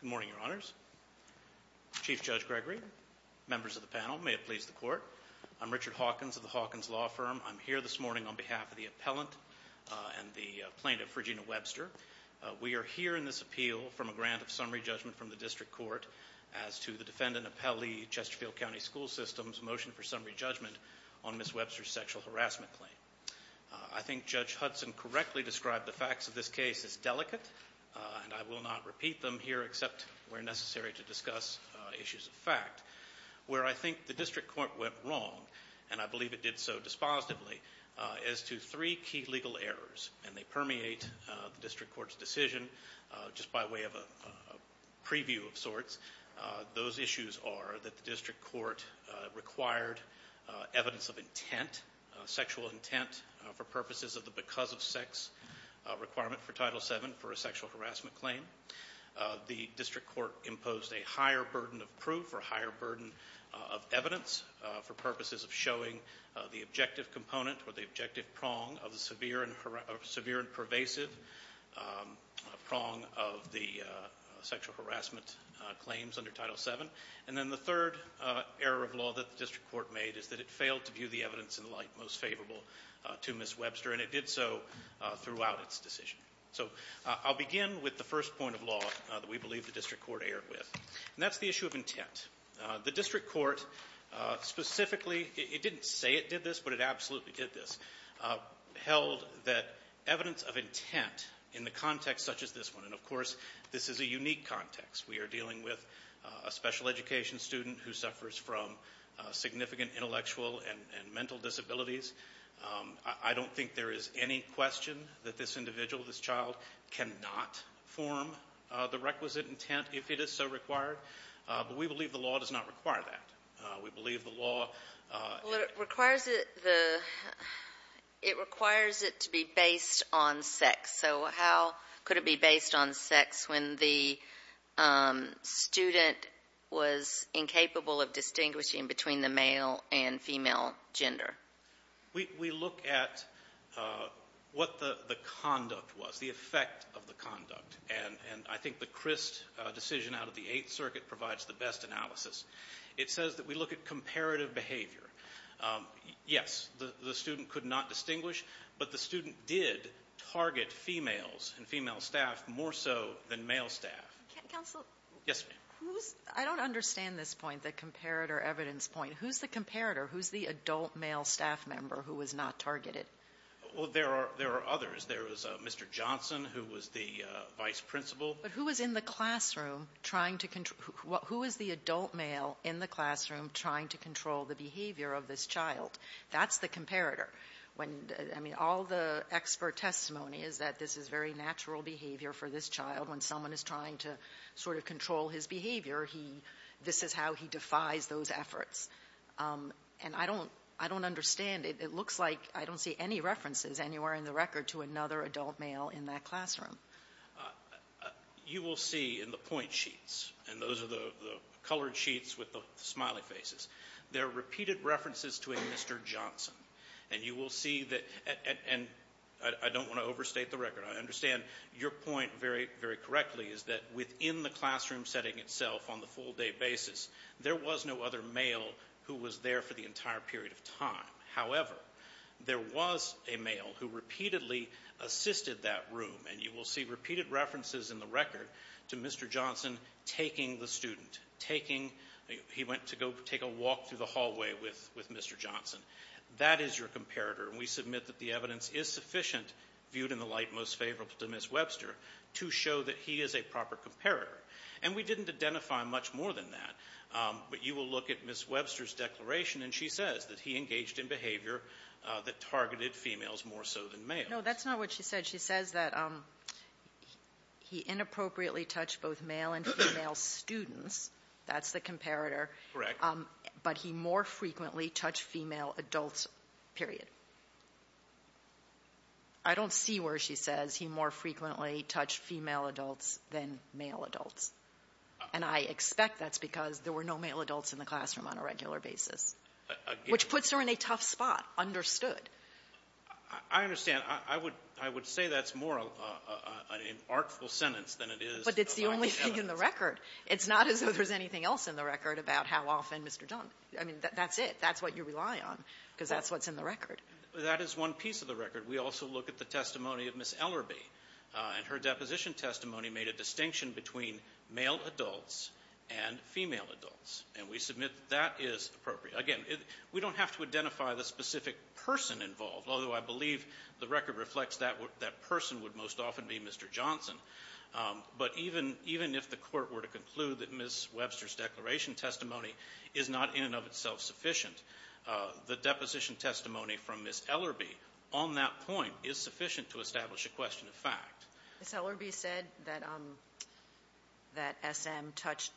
Good morning, Your Honors. Chief Judge Gregory, members of the panel, may it please the Court. I'm Richard Hawkins of the Hawkins Law Firm. I'm here this morning on behalf of the appellant and the plaintiff, Regina Webster. We are here in this appeal from a grant of summary judgment from the District Court as to the defendant appellee, Chesterfield County School System's motion for summary judgment on Miss Webster's sexual harassment claim. I think Judge Hudson correctly described the facts of this case as delicate and I will not repeat them here except where necessary to discuss issues of fact. Where I think the District Court went wrong, and I believe it did so dispositively, is to three key legal errors and they permeate the District Court's decision just by way of a preview of sorts. Those issues are that the District Court required evidence of intent, sexual intent, for purposes of the because-of-sex requirement for Title 7 sexual harassment claim. The District Court imposed a higher burden of proof or higher burden of evidence for purposes of showing the objective component or the objective prong of the severe and pervasive prong of the sexual harassment claims under Title 7. And then the third error of law that the District Court made is that it failed to view the evidence in light most favorable to Miss Webster's sexual harassment claim. And that's the issue of intent. The District Court specifically, it didn't say it did this, but it absolutely did this, held that evidence of intent in the context such as this one, and of course this is a unique context. We are dealing with a special education student who suffers from significant intellectual and mental disabilities. I don't think there is any question that this individual, this child, cannot form the requisite intent if it is so required. But we believe the law does not require that. We believe the law... Well, it requires it to be based on sex. So how could it be based on sex when the student was incapable of distinguishing between the male and female gender? We look at what the conduct was, the effect of the conduct. And I think the Crist decision out of the Eighth Circuit provides the best analysis. It says that we look at comparative behavior. Yes, the student could not distinguish, but the student did target females and female staff more so than male staff. Counselor? Yes, ma'am. I don't understand this point, the comparator evidence point. Who's the comparator? Who's the adult male staff member who was not targeted? Well, there are others. There was Mr. Johnson, who was the vice principal. But who was in the classroom trying to control the behavior of this child? That's the comparator. When, I mean, all the expert testimony is that this is very natural behavior for this child. When someone is trying to sort of control his behavior, he, this is how he defies those efforts. And I don't think there is any question and I don't, I don't understand. It looks like I don't see any references anywhere in the record to another adult male in that classroom. You will see in the point sheets, and those are the colored sheets with the smiley faces, there are repeated references to a Mr. Johnson. And you will see that, and I don't want to overstate the record. I understand your point very, very correctly is that within the classroom setting itself on the full day basis, there was no other male who was there for the entire period of time. However, there was a male who repeatedly assisted that room. And you will see repeated references in the record to Mr. Johnson taking the student, taking, he went to go take a walk through the hallway with, with Mr. Johnson. That is your comparator. And we submit that the evidence is sufficient, viewed in the light most favorable to Ms. Webster, to show that he is a proper comparator. And we didn't identify much more than that. But you will look at Ms. Webster's declaration, and she says that he engaged in behavior that targeted females more so than males. No, that's not what she said. She says that he inappropriately touched both male and female students. That's the comparator. Correct. But he more frequently touched female adults, period. I don't see where she says he more frequently touched female adults than male adults. And I expect that's because there were no male adults in the classroom on a regular basis. Which puts her in a tough spot, understood. I understand. I would, I would say that's more an artful sentence than it is to go by the evidence. But it's the only thing in the record. It's not as though there's anything else in the record about how often Mr. Johnson was there. I mean, that's it. That's what you rely on, because that's what's in the record. That is one piece of the record. We also look at the testimony of Ms. Ellerbe. And her deposition testimony made a distinction between male adults and female adults. And we submit that that is appropriate. Again, we don't have to identify the specific person involved, although I believe the record reflects that that person would most often be Mr. Johnson. But even, even if the Court were to conclude that Ms. Webster's declaration testimony is not in and of itself sufficient, the deposition testimony from Ms. Ellerbe on that point is sufficient to establish a question of fact. Ms. Ellerbe said that, that S.M. touched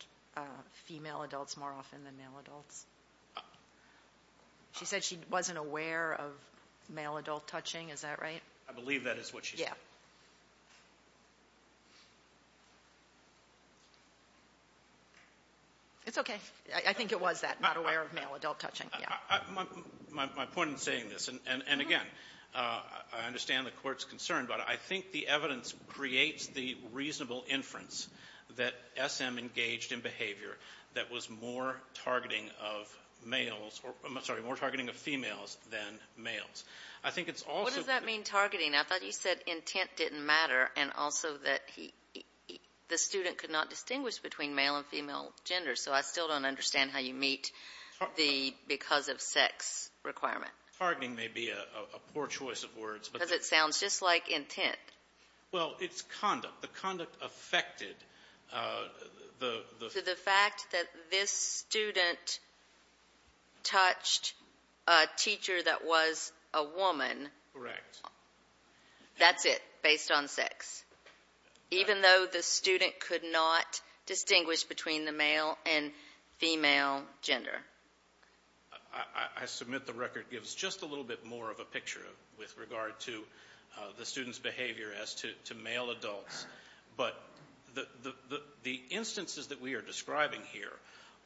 female adults more often than male adults. She said she wasn't aware of male adult touching. Is that right? I believe that is what she said. It's okay. I think it was that, not aware of male adult touching. My point in saying this, and again, I understand the Court's concern, but I think the evidence creates the reasonable inference that S.M. engaged in behavior that was more targeting of males, or, I'm sorry, more targeting of females than males. I think it's also... What does that mean, targeting? I thought you said intent didn't matter, and also that he, the student could not distinguish between male and female gender. So I still don't understand how you meet the because of sex requirement. Targeting may be a poor choice of words. Because it sounds just like intent. Well, it's conduct. The conduct affected the... So the fact that this student touched a teacher that was a woman. Correct. That's it, based on sex. Even though the student could not distinguish between the male and female gender. I submit the record gives just a little bit more of a picture with regard to the student's behavior as to male adults. But the instances that we are describing here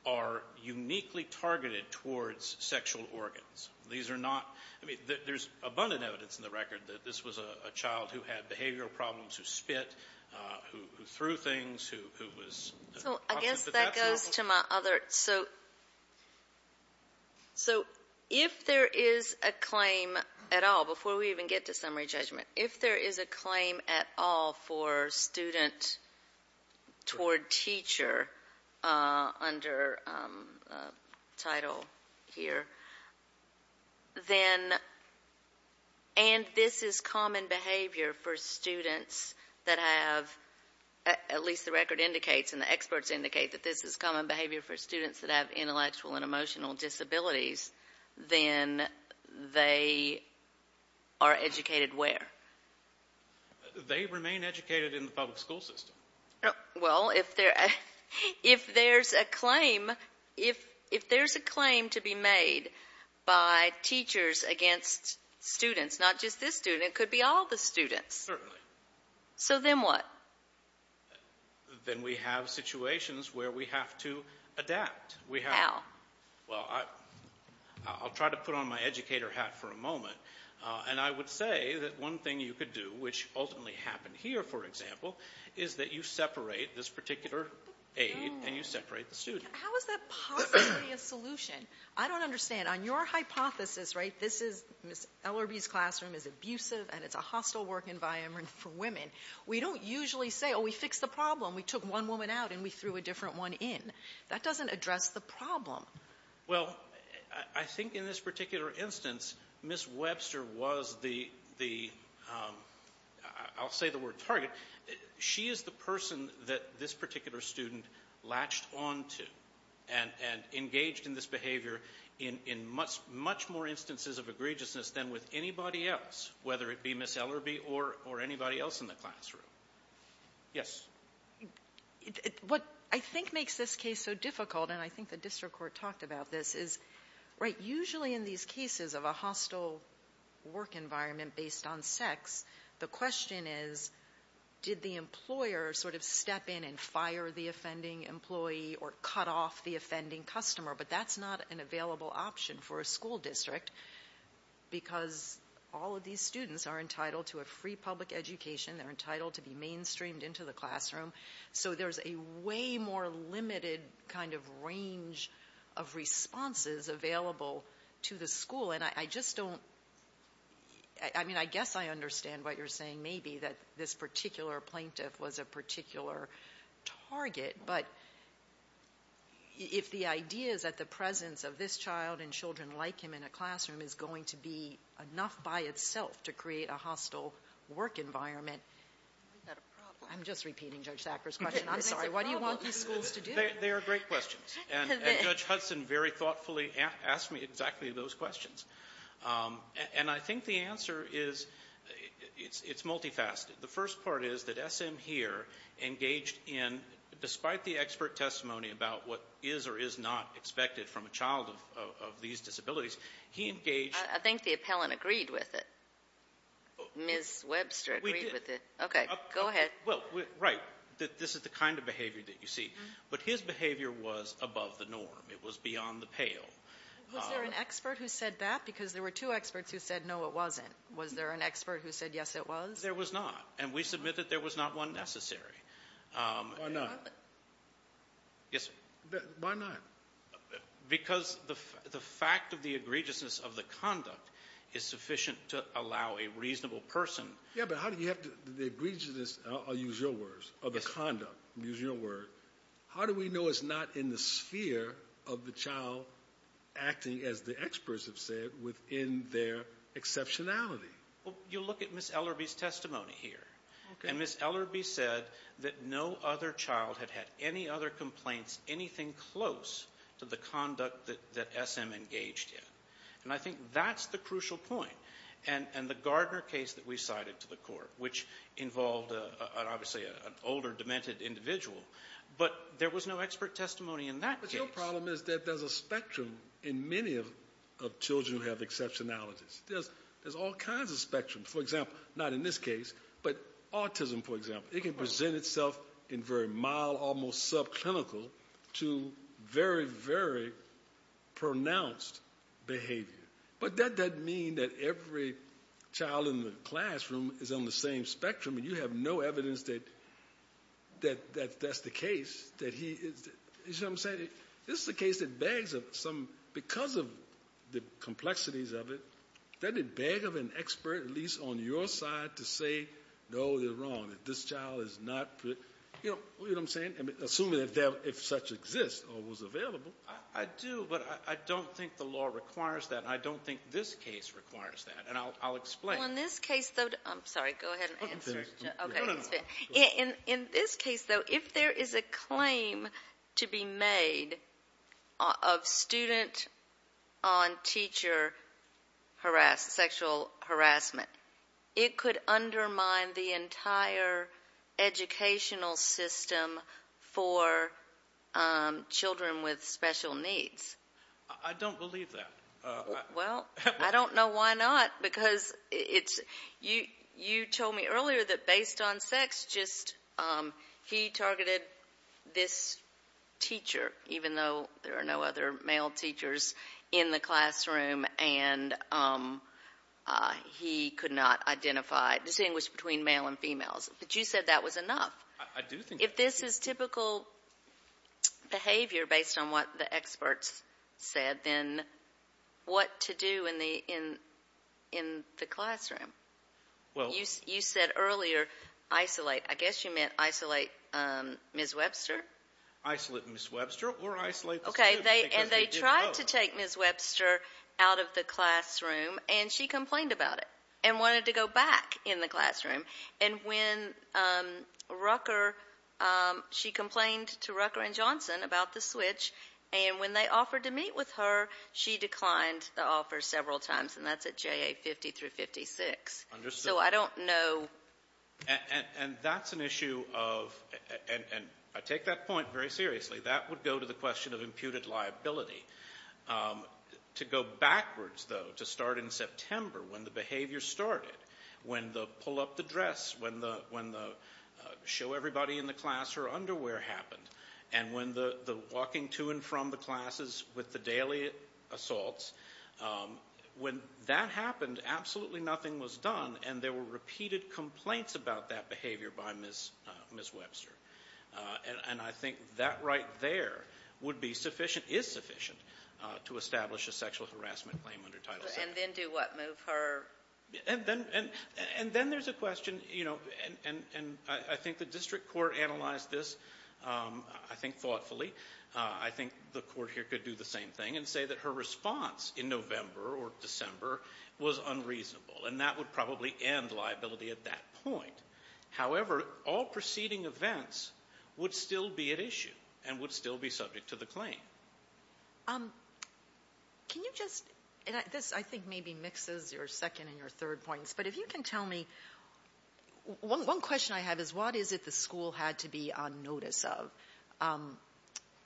are uniquely targeted towards sexual organs. These are not... I mean, there's abundant evidence in the record that this was a child who had behavioral problems, who spit, who threw things, who was... So I guess that goes to my other... So if there is a claim at all, before we even get to summary judgment, if there is a claim at all for student toward teacher under title here, then, and this is common behavior for students that have, at least the record indicates and the experts indicate that this is common behavior for students that have intellectual and emotional disabilities, then they are educated where? They remain educated in the public school system. Well, if there's a claim to be made by teachers against students, not just this student, it could be all the students. Certainly. So then what? Well, then we have situations where we have to adapt. We have... How? Well, I'll try to put on my educator hat for a moment. And I would say that one thing you could do, which ultimately happened here, for example, is that you separate this particular aid and you separate the student. How is that possibly a solution? I don't understand. On your hypothesis, right, this is, LRB's classroom is abusive and it's a hostile work environment for women. We don't usually say, oh, we fixed the problem. We took one woman out and we threw a different one in. That doesn't address the problem. Well, I think in this particular instance, Ms. Webster was the, I'll say the word target, she is the person that this particular student latched onto and engaged in this behavior in much more instances of egregiousness than with anybody else, whether it be Ms. Webster's classroom. Yes. What I think makes this case so difficult, and I think the district court talked about this, is, right, usually in these cases of a hostile work environment based on sex, the question is, did the employer sort of step in and fire the offending employee or cut off the offending customer? But that's not an available option for a school district because all of these students are entitled to a free public education. They're entitled to be mainstreamed into the classroom. So there's a way more limited kind of range of responses available to the school. And I just don't, I mean, I guess I understand what you're saying, maybe, that this particular plaintiff was a particular target. But if the idea is that the presence of this child and children like him in a classroom is going to be enough by itself to create a hostile work environment, is that a problem? I'm just repeating Judge Thacker's question. I'm sorry. What do you want these schools to do? They are great questions. And Judge Hudson very thoughtfully asked me exactly those questions. And I think the answer is, it's multifaceted. The first part is that SM here engaged in, despite the expert testimony about what is or is not expected from a child of these disabilities, he engaged... I think the appellant agreed with it. Ms. Webster agreed with it. Okay, go ahead. Well, right. That this is the kind of behavior that you see. But his behavior was above the norm. It was beyond the pale. Was there an expert who said that? Because there were two experts who said, no, it wasn't. Was there an expert who said, yes, it was? There was not. And we submit that there was not one necessary. Why not? Yes, sir. Why not? Because the fact of the egregiousness of the conduct is sufficient to allow a reasonable person. Yeah, but how do you have the egregiousness, I'll use your words, of the conduct, use your word, how do we know it's not in the sphere of the child acting as the experts have said within their exceptionality? Well, you look at Ms. Ellerbee's testimony here and Ms. Ellerbee said that no other child had had any other complaints, anything close to the conduct that SM engaged in. And I think that's the crucial point. And the Gardner case that we cited to the court, which involved obviously an older, demented individual, but there was no expert testimony in that case. But your problem is that there's a spectrum in many of children who have exceptionalities, there's all kinds of spectrum, for example, not in this case, but autism, for example, it can present itself in very mild, almost subclinical to very, very pronounced behavior. But that doesn't mean that every child in the classroom is on the same spectrum and you have no evidence that that's the case, that he is, you know what I'm saying, this is a case that bags up some, because of the complexities of it, that it bag of an expert, at least on your side to say, no, they're wrong, that this child is not, you know what I'm saying? I mean, assuming that if such exists or was available. I do, but I don't think the law requires that. And I don't think this case requires that. And I'll, I'll explain. Well, in this case, though, I'm sorry, go ahead and answer. Okay. In this case, though, if there is a claim to be made of student on teacher harass, sexual harassment, it could undermine the entire educational system for children with special needs. I don't believe that. Well, I don't know why not, because it's, you, you told me earlier that based on sex, just, um, he targeted this teacher, even though there are no other male teachers in the classroom, and, um, uh, he could not identify, distinguish between male and females, but you said that was enough. If this is typical behavior based on what the experts said, then what to do in the, in, in the classroom. Well, you, you said earlier isolate, I guess you meant isolate, um, Ms. Webster, isolate Ms. Webster or isolate. Okay. They, and they tried to take Ms. Webster out of the classroom and she complained about it and wanted to go back in the classroom. And when, um, Rucker, um, she complained to Rucker and Johnson about the switch. And when they offered to meet with her, she declined the offer several times. And that's at JA 50 through 56. So I don't know. And that's an issue of, and I take that point very seriously. That would go to the question of imputed liability. Um, to go backwards though, to start in September when the behavior started, when the pull up the dress, when the, when the, uh, show everybody in the class her underwear happened. And when the, the walking to and from the classes with the daily assaults, um, when that happened, absolutely nothing was done and there were repeated complaints about that behavior by Ms., uh, Ms. Webster. Uh, and, and I think that right there would be sufficient, is sufficient, uh, to establish a sexual harassment claim under Title VII. And then do what? Move her? And then, and, and then there's a question, you know, and, and, and I think the district court analyzed this, um, I think thoughtfully, uh, I think the court here could do the same thing and say that her response in November or December was unreasonable and that would probably end liability at that point. However, all preceding events would still be at issue and would still be subject to the claim. Um, can you just, and I, this, I think maybe mixes your second and your third points, but if you can tell me one, one question I have is what is it the school had to be on notice of? Um,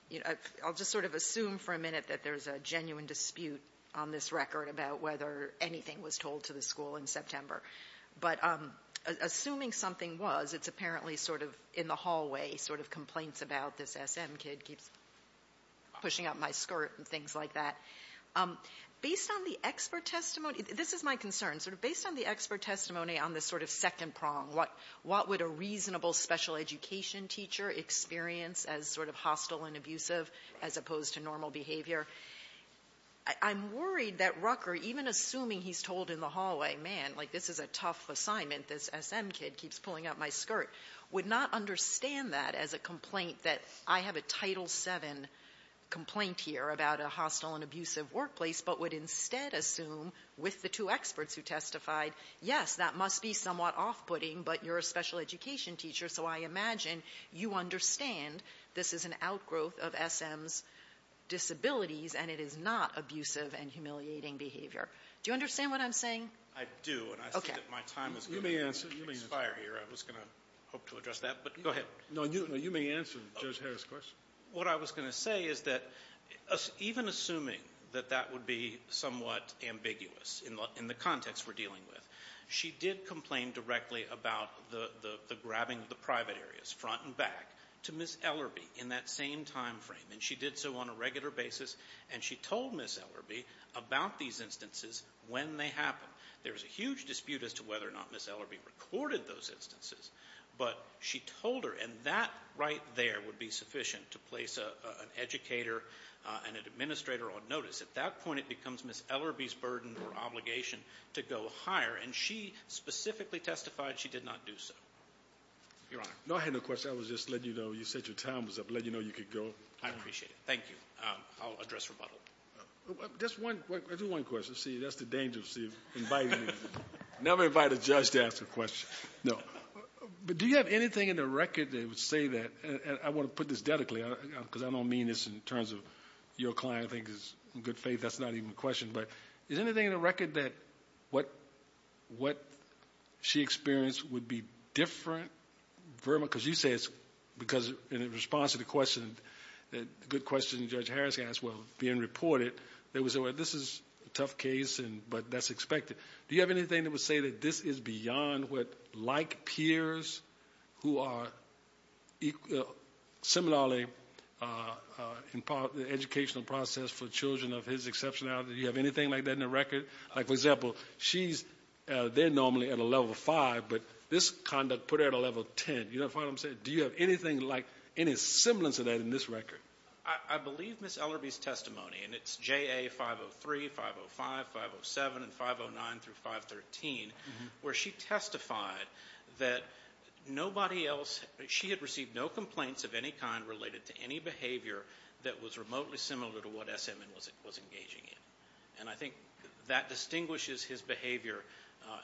you know, I, I'll just sort of assume for a minute that there's a genuine dispute on this record about whether anything was told to the school in September, but, um, assuming something was, it's apparently sort of in the hallway, sort of complaints about this SM kid keeps. Pushing up my skirt and things like that. Um, based on the expert testimony, this is my concern, sort of based on the expert testimony on this sort of second prong, what, what would a reasonable special education teacher experience as sort of hostile and abusive as opposed to normal behavior? I'm worried that Rucker, even assuming he's told in the hallway, man, like this is a tough assignment, this SM kid keeps pulling up my skirt, would not understand that as a complaint that I have a title seven complaint here about a hostile and abusive workplace, but would instead assume with the two experts who testified, yes, that must be somewhat off-putting, but you're a special education teacher. So I imagine you understand this is an outgrowth of SM's disabilities and it is not abusive and humiliating behavior. Do you understand what I'm saying? I do. And I think that my time is going to expire here. I was going to hope to address that, but go ahead. No, you, no, you may answer Judge Harris question. What I was going to say is that even assuming that that would be somewhat ambiguous in the context we're dealing with, she did complain directly about the, the, the grabbing of the private areas front and back to Ms. Ellerbee in that same timeframe. And she did so on a regular basis. And she told Ms. Ellerbee about these instances when they happen. There was a huge dispute as to whether or not Ms. Ellerbee recorded those instances, but she told her, and that right there would be sufficient to place an educator and an administrator on notice. At that point, it becomes Ms. Ellerbee's burden or obligation to go higher. And she specifically testified she did not do so. Your Honor. No, I had no question. I was just letting you know, you said your time was up. Letting you know you could go. I appreciate it. Thank you. I'll address rebuttal. Just one, I do one question. See, that's the danger of seeing, inviting, never invite a judge to ask a question. No, but do you have anything in the record that would say that, and I want to put this dedicately, because I don't mean this in terms of your client, I think is in good faith, that's not even a question, but is anything in the record that what, what she experienced would be different vermin? Because you say it's because in response to the question, the good question Judge Harris asked while being reported, they would say, well, this is a tough case and, but that's expected. Do you have anything that would say that this is beyond what, like peers who are similarly, uh, uh, in part the educational process for children of his exceptionality? Do you have anything like that in the record? Like, for example, she's, uh, they're normally at a level five, but this conduct put her at a level 10. You know what I'm saying? Do you have anything like any semblance of that in this record? I believe Ms. Ellerbee's testimony, and it's JA 503, 505, 507, and 509 through 513, where she testified that nobody else, she had received no complaints of any kind related to any behavior that was remotely similar to what SMN was, was engaging in. And I think that distinguishes his behavior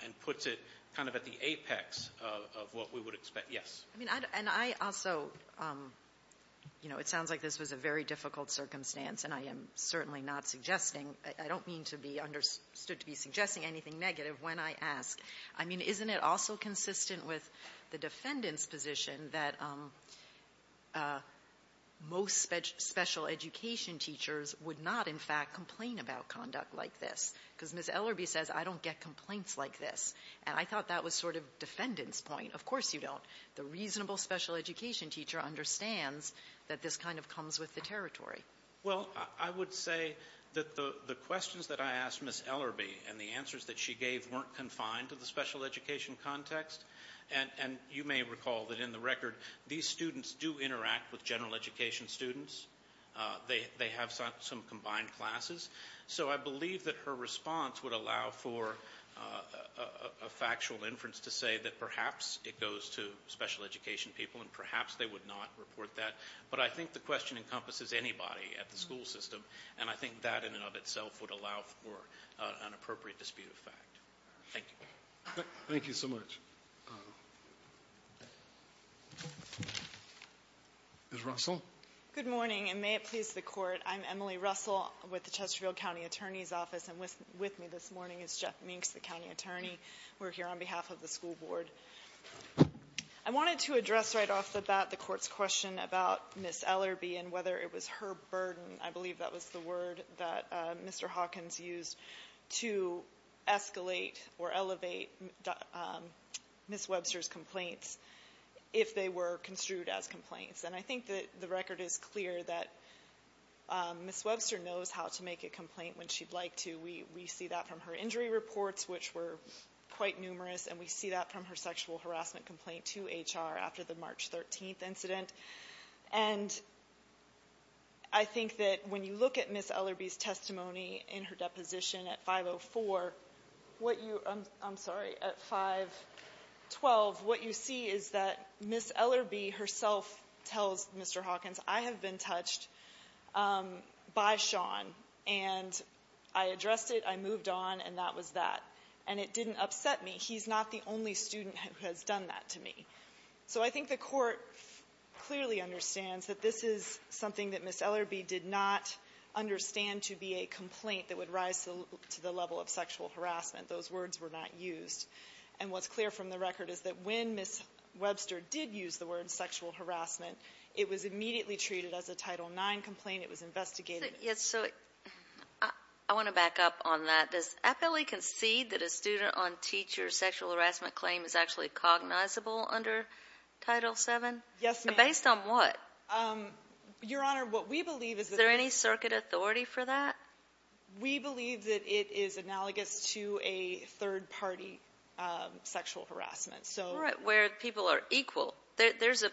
and puts it kind of at the apex of what we would expect. Yes. I mean, and I also, um, you know, it sounds like this was a very difficult circumstance, and I am certainly not suggesting, I don't mean to be understood to be suggesting anything negative when I ask. I mean, isn't it also consistent with the defendant's position that, um, uh, most special education teachers would not, in fact, complain about conduct like this? Because Ms. Ellerbee says, I don't get complaints like this. And I thought that was sort of defendant's point. Of course you don't. The reasonable special education teacher understands that this kind of comes with the territory. Well, I would say that the questions that I asked Ms. Ellerbee and the answers that she gave weren't confined to the special education context. And you may recall that in the record, these students do interact with general education students. They have some combined classes. So I believe that her response would allow for a factual inference to say that perhaps it goes to special education people and perhaps they would not report that. But I think the question encompasses anybody at the school system. And I think that in and of itself would allow for an appropriate dispute of fact. Thank you. Thank you so much. Ms. Russell. Good morning. And may it please the court. I'm Emily Russell with the Chesterfield County Attorney's Office. And with me this morning is Jeff Minks, the County Attorney. We're here on behalf of the school board. I wanted to address right off the bat the court's question about Ms. Ellerbee and whether it was her burden. I believe that was the word that Mr. Hawkins used to escalate or elevate Ms. Webster's complaints if they were construed as complaints. And I think that the record is clear that Ms. Webster knows how to make a complaint when she'd like to. We see that from her injury reports, which were quite numerous. And we see that from her sexual harassment complaint to HR after the March 13th incident. And I think that when you look at Ms. Ellerbee's testimony in her deposition at 5-0-4, what you, I'm sorry, at 5-12, what you see is that Ms. Ellerbee herself tells Mr. Hawkins, I have been touched by Sean. And I addressed it. I moved on. And that was that. And it didn't upset me. He's not the only student who has done that to me. So I think the Court clearly understands that this is something that Ms. Ellerbee did not understand to be a complaint that would rise to the level of sexual harassment. Those words were not used. And what's clear from the record is that when Ms. Webster did use the word sexual harassment, it was immediately treated as a Title IX complaint. It was investigated. Yes. So I want to back up on that. Does APELI concede that a student on teacher sexual harassment claim is actually cognizable under Title VII? Yes, ma'am. Based on what? Your Honor, what we believe is that. Is there any circuit authority for that? We believe that it is analogous to a third party sexual harassment. So where people are equal, there's an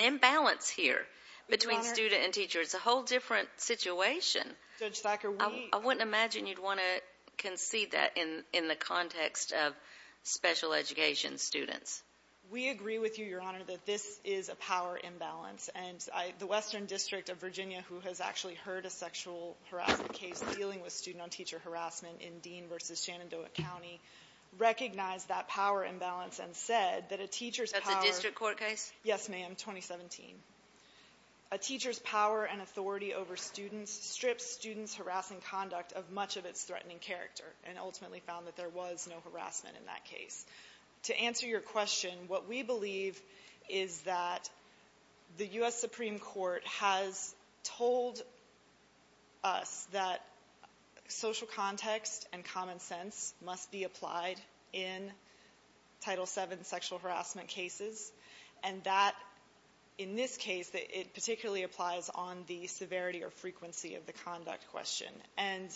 imbalance here between student and teacher. It's a whole different situation. Judge Thacker, I wouldn't imagine you'd want to concede that in in the context of special education students. We agree with you, Your Honor, that this is a power imbalance. And the Western District of Virginia, who has actually heard a sexual harassment case dealing with student on teacher harassment in Dean versus Shenandoah County, recognized that power imbalance and said that a teacher's power court case. Yes, ma'am. In 2017, a teacher's power and authority over students strips students harassing conduct of much of its threatening character and ultimately found that there was no harassment in that case. To answer your question, what we believe is that the U.S. Supreme Court has told us that social context and common sense must be applied in Title VII sexual harassment cases. And that, in this case, it particularly applies on the severity or frequency of the conduct question. And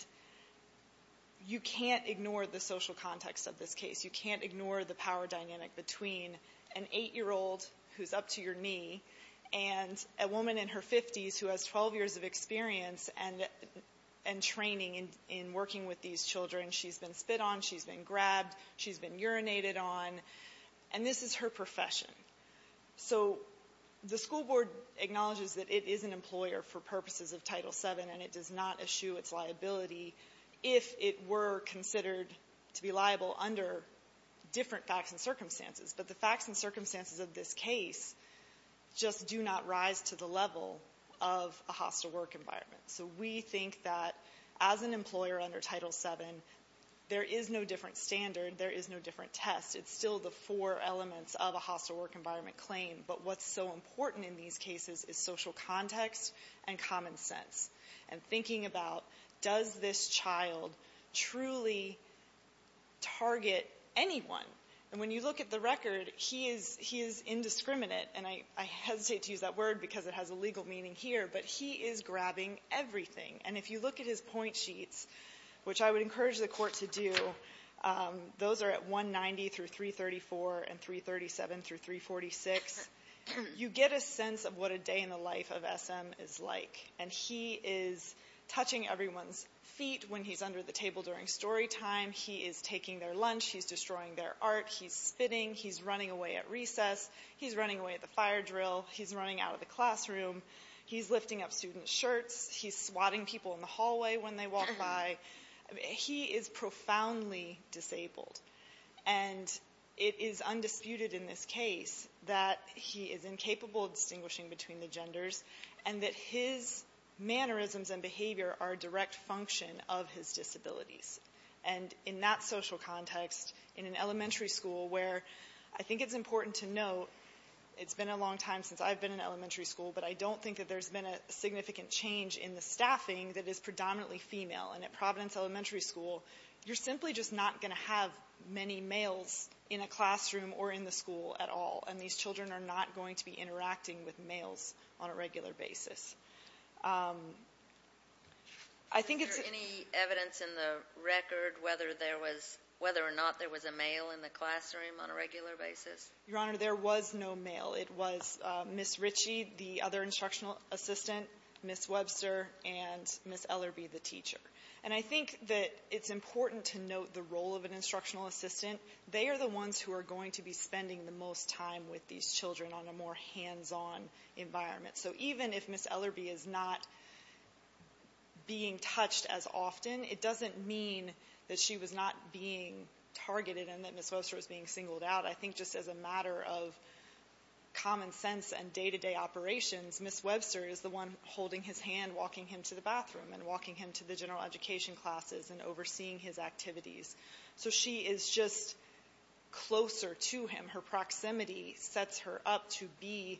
you can't ignore the social context of this case. You can't ignore the power dynamic between an 8-year-old who's up to your knee and a woman in her 50s who has 12 years of experience and training in working with these children. She's been spit on. She's been grabbed. She's been urinated on. And this is her profession. So the school board acknowledges that it is an employer for purposes of Title VII and it does not eschew its liability if it were considered to be liable under different facts and circumstances. But the facts and circumstances of this case just do not rise to the level of a hostile work environment. So we think that as an employer under Title VII, there is no different standard. There is no different test. It's still the four elements of a hostile work environment claim. But what's so important in these cases is social context and common sense and thinking about, does this child truly target anyone? And when you look at the record, he is indiscriminate. And I hesitate to use that word because it has a legal meaning here, but he is grabbing everything. And if you look at his point sheets, which I would encourage the court to do, those are at 190 through 334 and 337 through 346. You get a sense of what a day in the life of SM is like. And he is touching everyone's feet when he's under the table during story time. He is taking their lunch. He's destroying their art. He's spitting. He's running away at recess. He's running away at the fire drill. He's running out of the classroom. He's lifting up student shirts. He's swatting people in the hallway when they walk by. He is profoundly disabled. And it is undisputed in this case that he is incapable of distinguishing between the genders and that his mannerisms and behavior are a direct function of his disabilities. And in that social context, in an elementary school where I think it's important to note, it's been a long time since I've been in elementary school, but I don't think that there's been a significant change in the staffing that is predominantly female. And at Providence Elementary School, you're simply just not going to have many males in a classroom or in the school at all. And these children are not going to be interacting with males on a regular basis. Is there any evidence in the record whether there was, whether or not there was a male in the classroom on a regular basis? Your Honor, there was no male. It was Ms. Ritchie, the other instructional assistant, Ms. Webster, and Ms. Ellerby, the teacher. And I think that it's important to note the role of an instructional assistant. They are the ones who are going to be spending the most time with these children on a more hands-on environment. So even if Ms. Ellerby is not being touched as often, it doesn't mean that she was not being targeted and that Ms. Webster was being singled out. I think just as a matter of common sense and day-to-day operations, Ms. Webster is the one holding his hand, walking him to the bathroom and walking him to the general education classes and overseeing his activities. So she is just closer to him. Her proximity sets her up to be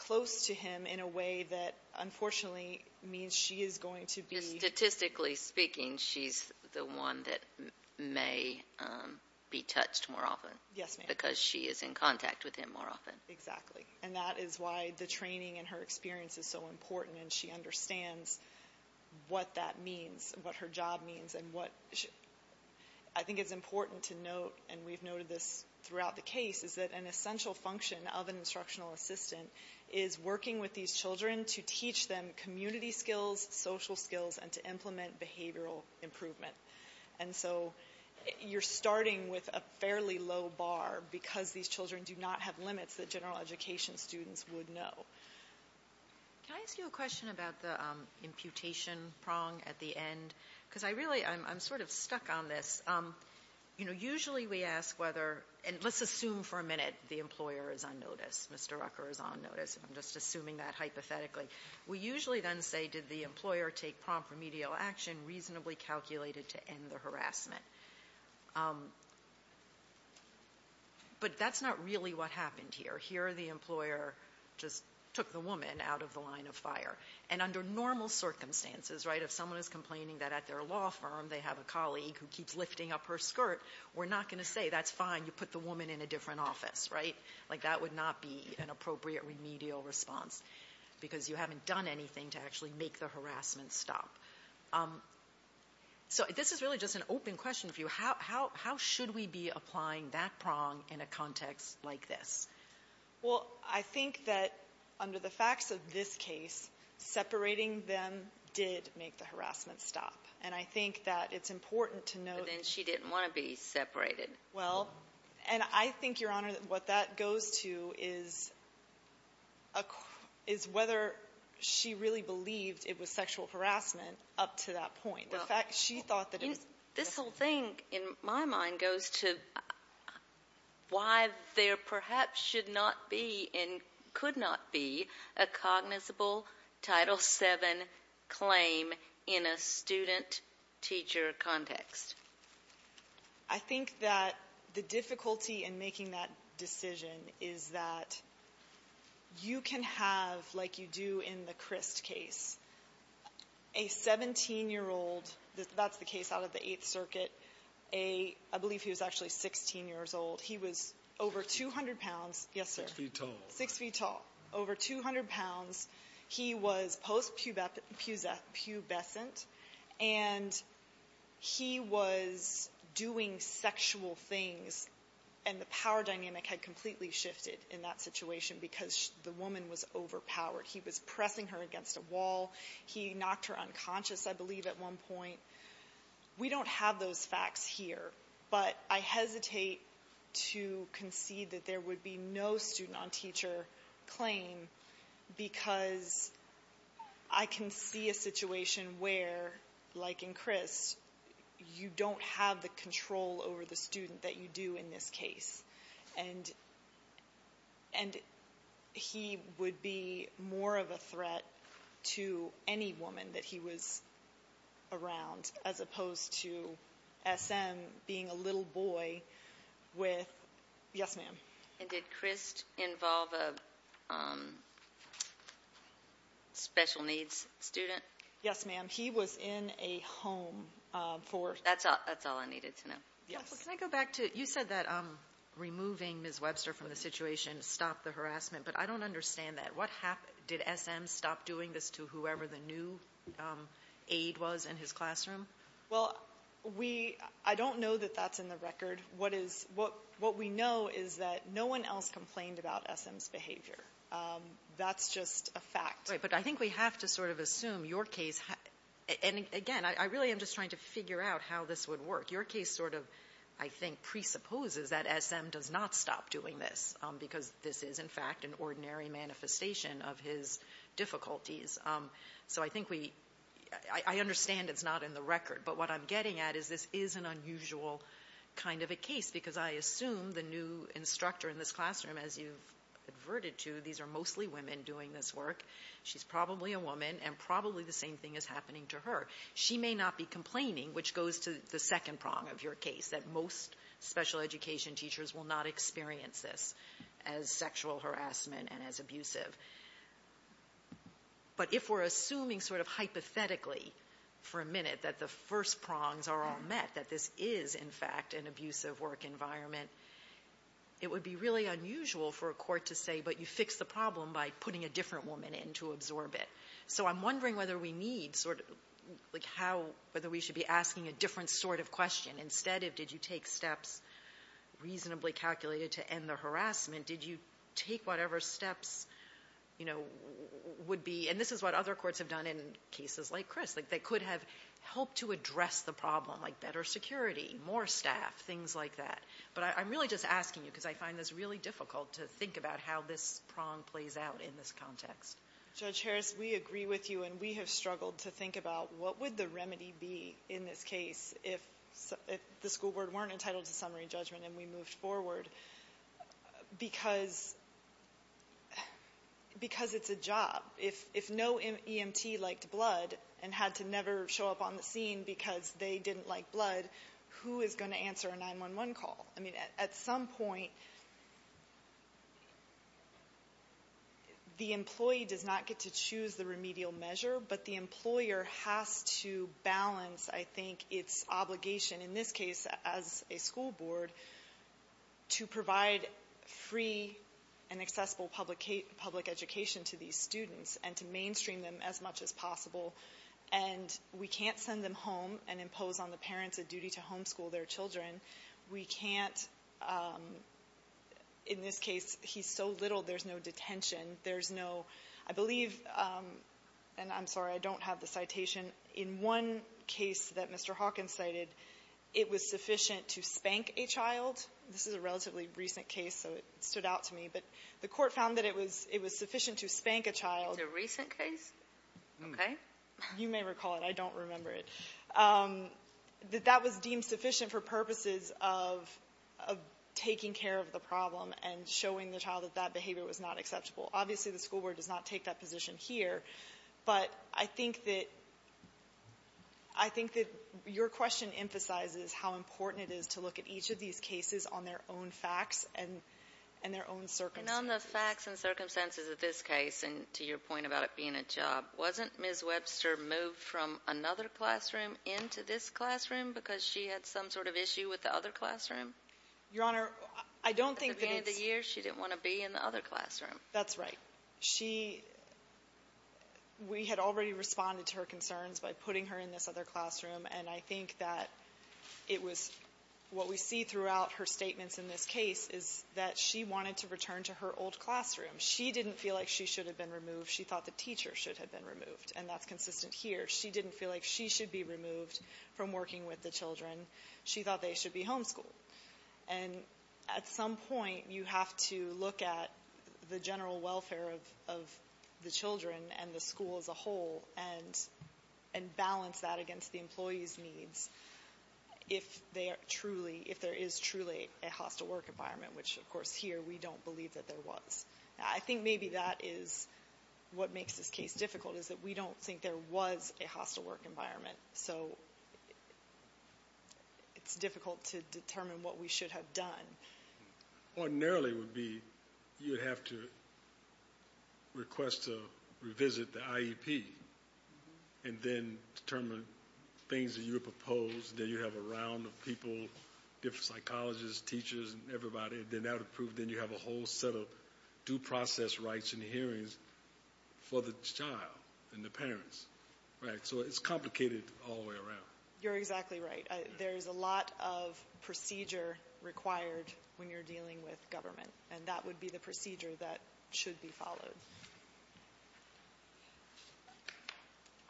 close to him in a way that unfortunately means she is going to be... Statistically speaking, she's the one that may be touched more often. Yes, ma'am. Because she is in contact with him more often. Exactly. And that is why the training and her experience is so important. She understands what that means, what her job means. And I think it's important to note, and we've noted this throughout the case, is that an essential function of an instructional assistant is working with these children to teach them community skills, social skills, and to implement behavioral improvement. And so you're starting with a fairly low bar because these children do not have limits that general education students would know. Can I ask you a question about the imputation prong at the end? Because I really, I'm sort of stuck on this. You know, usually we ask whether, and let's assume for a minute the employer is on notice, Mr. Rucker is on notice. I'm just assuming that hypothetically. We usually then say, did the employer take prompt remedial action reasonably calculated to end the harassment? But that's not really what happened here. Here the employer just took the woman out of the line of fire. And under normal circumstances, right? If someone is complaining that at their law firm they have a colleague who keeps lifting up her skirt, we're not going to say, that's fine, you put the woman in a different office, right? Like that would not be an appropriate remedial response because you haven't done anything to actually make the harassment stop. So this is really just an open question for you. How should we be applying that prong in a context like this? Well, I think that under the facts of this case, separating them did make the harassment stop. And I think that it's important to know. But then she didn't want to be separated. Well, and I think, Your Honor, that what that goes to is, is whether she really believed it was sexual harassment up to that point. The fact she thought that it was. This whole thing, in my mind, goes to why there perhaps should not be and could not be a cognizable Title VII claim in a student-teacher context. I think that the difficulty in making that decision is that you can have, like you do in the Crist case, a 17-year-old, that's the case out of the Eighth Circuit, a, I believe he was actually 16 years old. He was over 200 pounds. Yes, sir. Six feet tall. Six feet tall. Over 200 pounds. He was post-pubescent and he was doing sexual things and the power dynamic had completely shifted in that situation because the woman was overpowered. He was pressing her against a wall. He knocked her unconscious, I believe, at one point. We don't have those facts here, but I hesitate to concede that there would be no student-on-teacher claim because I can see a situation where, like in Crist, you don't have the control over the student that you do in this case. And he would be more of a threat to any woman that he was around as opposed to SM being a little boy with, yes, ma'am. And did Crist involve a special needs student? Yes, ma'am. He was in a home for... That's all I needed to know. Yes. Can I go back to, you said that removing Ms. Webster from the situation stopped the harassment, but I don't understand that. What happened? Did SM stop doing this to whoever the new aid was in his classroom? Well, we, I don't know that that's in the record. What is, what we know is that no one else complained about SM's behavior. That's just a fact. Right. But I think we have to sort of assume your case, and again, I really am just trying to figure out how this would work. Your case sort of, I think, presupposes that SM does not stop doing this because this is in fact an ordinary manifestation of his difficulties. So I think we, I understand it's not in the record, but what I'm getting at is this is an unusual kind of a case because I assume the new instructor in this classroom, as you've adverted to, these are mostly women doing this work. She's probably a woman and probably the same thing is happening to her. She may not be complaining, which goes to the second prong of your case, that most special education teachers will not experience this as sexual harassment and as abusive. But if we're assuming sort of hypothetically for a minute that the first prongs are all met, that this is in fact an abusive work environment, it would be really unusual for a court to say, but you fixed the problem by putting a different woman in to absorb it. So I'm wondering whether we need sort of, like how, whether we should be asking a different sort of question instead of did you take steps reasonably calculated to end the harassment? Did you take whatever steps, you know, would be, and this is what other courts have done in cases like Chris, like they could have helped to address the problem, like better security, more staff, things like that. But I'm really just asking you because I find this really difficult to think about how this prong plays out in this context. Judge Harris, we agree with you and we have struggled to think about what would the remedy be in this case if the school board weren't entitled to summary judgment and we moved forward because it's a job. If no EMT liked blood and had to never show up on the scene because they didn't like blood, who is going to answer a 911 call? I mean, at some point the employee does not get to choose the remedial measure, but the employer has to balance, I think, its obligation in this case as a school board to provide free and accessible public education to these students and to mainstream them as much as possible. And we can't send them home and impose on the parents a duty to homeschool their children. We can't, in this case, he's so little, there's no detention. There's no, I believe, and I'm sorry, I don't have the citation. In one case that Mr. Hawkins cited, it was sufficient to spank a child. This is a relatively recent case, so it stood out to me. But the Court found that it was sufficient to spank a child. It's a recent case? Okay. You may recall it. I don't remember it. That that was deemed sufficient for purposes of taking care of the problem and showing the child that that behavior was not acceptable. Obviously, the school board does not take that position here, but I think that your question emphasizes how important it is to look at each of these cases on their own facts and their own circumstances. And on the facts and circumstances of this case, and to your point about it being a job, wasn't Ms. Webster moved from another classroom into this classroom because she had some sort of issue with the other classroom? Your Honor, I don't think that it's — At the beginning of the year, she didn't want to be in the other classroom. That's right. She — we had already responded to her concerns by putting her in this other classroom, and I think that it was — what we see throughout her statements in this case is that she wanted to return to her old classroom. She didn't feel like she should have been removed. She thought the teacher should have been removed, and that's consistent here. She didn't feel like she should be removed from working with the children. She thought they should be homeschooled. And at some point, you have to look at the general welfare of the children and the school as a whole and balance that against the employees' needs if they are truly — if there is truly a hostile work environment, which, of course, here we don't believe that there was. I think maybe that is what makes this case difficult, is that we don't think there was a hostile work environment. So it's difficult to determine what we should have done. Ordinarily, it would be — you would have to request to revisit the IEP and then determine things that you propose. Then you have a round of people, different psychologists, teachers, and everybody, and that would prove — then you have a whole set of due process rights and hearings for the child and the parents, right? So it's complicated all the way around. You're exactly right. There is a lot of procedure required when you're dealing with government, and that would be the procedure that should be followed.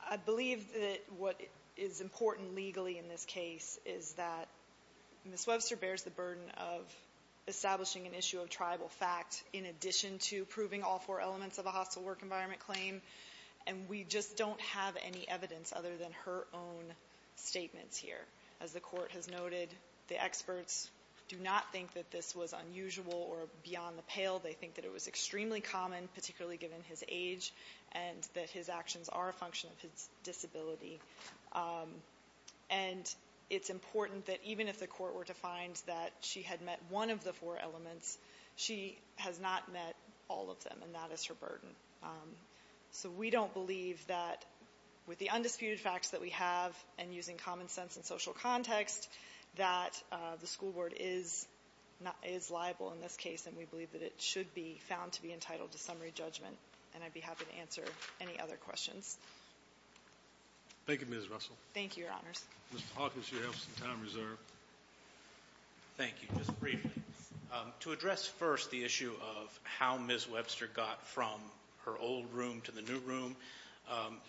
I believe that what is important legally in this case is that Ms. Webster bears the burden of establishing an issue of tribal fact in addition to proving all four elements of a hostile work environment claim. And we just don't have any evidence other than her own statements here. As the Court has noted, the experts do not think that this was unusual or beyond the pale. They think that it was extremely common, particularly given his age, and that his actions are a function of his disability. And it's important that even if the Court were to find that she had met one of the four elements, she has not met all of them, and that is her burden. So we don't believe that with the undisputed facts that we have and using common sense and social context, that the school board is not — is liable in this case, and we believe that it should be found to be entitled to summary judgment. And I'd be happy to answer any other questions. Thank you, Ms. Russell. Thank you, Your Honors. Mr. Hawkins, you have some time reserved. Thank you. Just briefly, to address first the issue of how Ms. Webster got from her old room to the new room,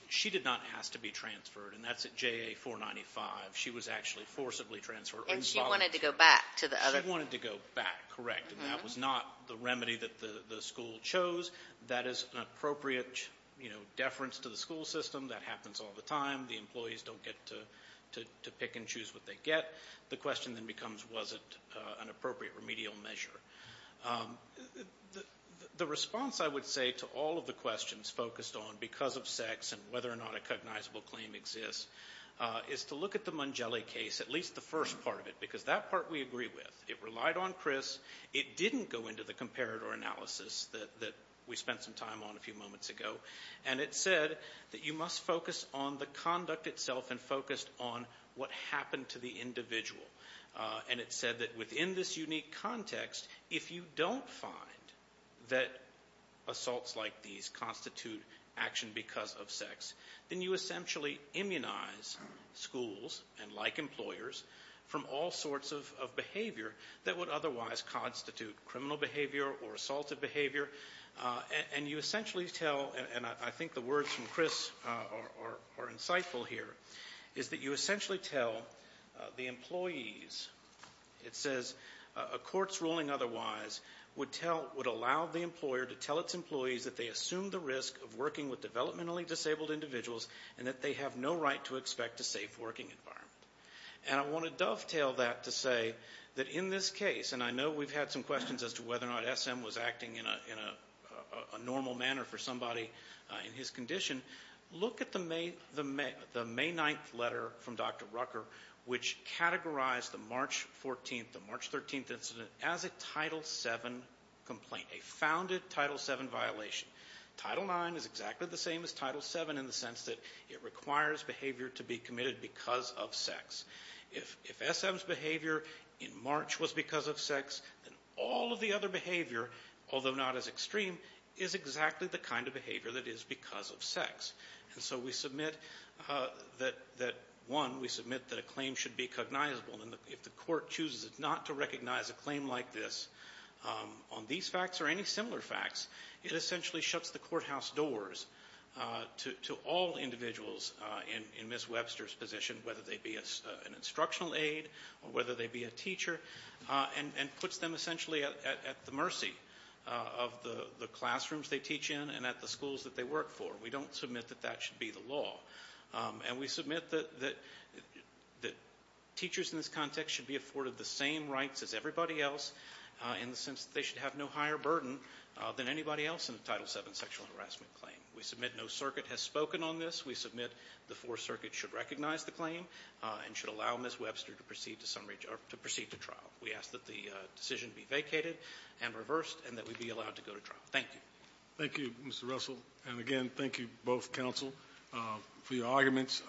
she did not ask to be transferred, and that's at JA-495. She was actually forcibly transferred. And she wanted to go back to the other — She wanted to go back, correct. And that was not the remedy that the school chose. That is an appropriate, you know, deference to the school system. That happens all the time. The employees don't get to pick and choose what they get. The question then becomes, was it an appropriate remedial measure? The response, I would say, to all of the questions focused on because of sex and whether or not a cognizable claim exists is to look at the Mongelli case, at least the first part of it, because that part we agree with. It relied on Chris. It didn't go into the comparator analysis that we spent some time on a few moments ago. And it said that you must focus on the conduct itself and focused on what happened to the individual. And it said that within this unique context, if you don't find that assaults like these constitute action because of sex, then you essentially immunize schools, and like employers, from all sorts of behavior that would otherwise constitute criminal behavior or assaulted behavior. And you essentially tell, and I think the words from Chris are insightful here, is that you essentially tell the employees, it says, a court's ruling otherwise would allow the employer to tell its employees that they assume the risk of working with developmentally disabled individuals and that they have no right to expect a safe working environment. And I want to dovetail that to say that in this case, and I know we've had some questions as to whether or not SM was acting in a normal manner for somebody in his condition, look at the May 9th letter from Dr. Rucker, which categorized the March 14th, the March 13th incident as a Title VII complaint, a founded Title VII violation. Title IX is exactly the same as Title VII in the sense that it requires behavior to be committed because of sex. If SM's behavior in March was because of sex, then all of the other behavior, although not as extreme, is exactly the kind of behavior that is because of sex. And so we submit that, one, we submit that a claim should be cognizable. If the court chooses not to recognize a claim like this, on these facts or any similar facts, it essentially shuts the courthouse doors to all individuals in Ms. Webster's position, whether they be an instructional aide or whether they be a teacher, and puts them essentially at the mercy of the classrooms they teach in and at the schools that they work for. We don't submit that that should be the law. And we submit that teachers in this context should be afforded the same rights as everybody else in the sense that they should have no higher burden than anybody else in a Title VII sexual harassment claim. We submit no circuit has spoken on this. We submit the Fourth Circuit should recognize the claim and should allow Ms. Webster to proceed to summary or to proceed to trial. We ask that the decision be vacated and reversed and that we be allowed to go to trial. Thank you. Thank you, Mr. Russell. And again, thank you, both counsel, for your arguments.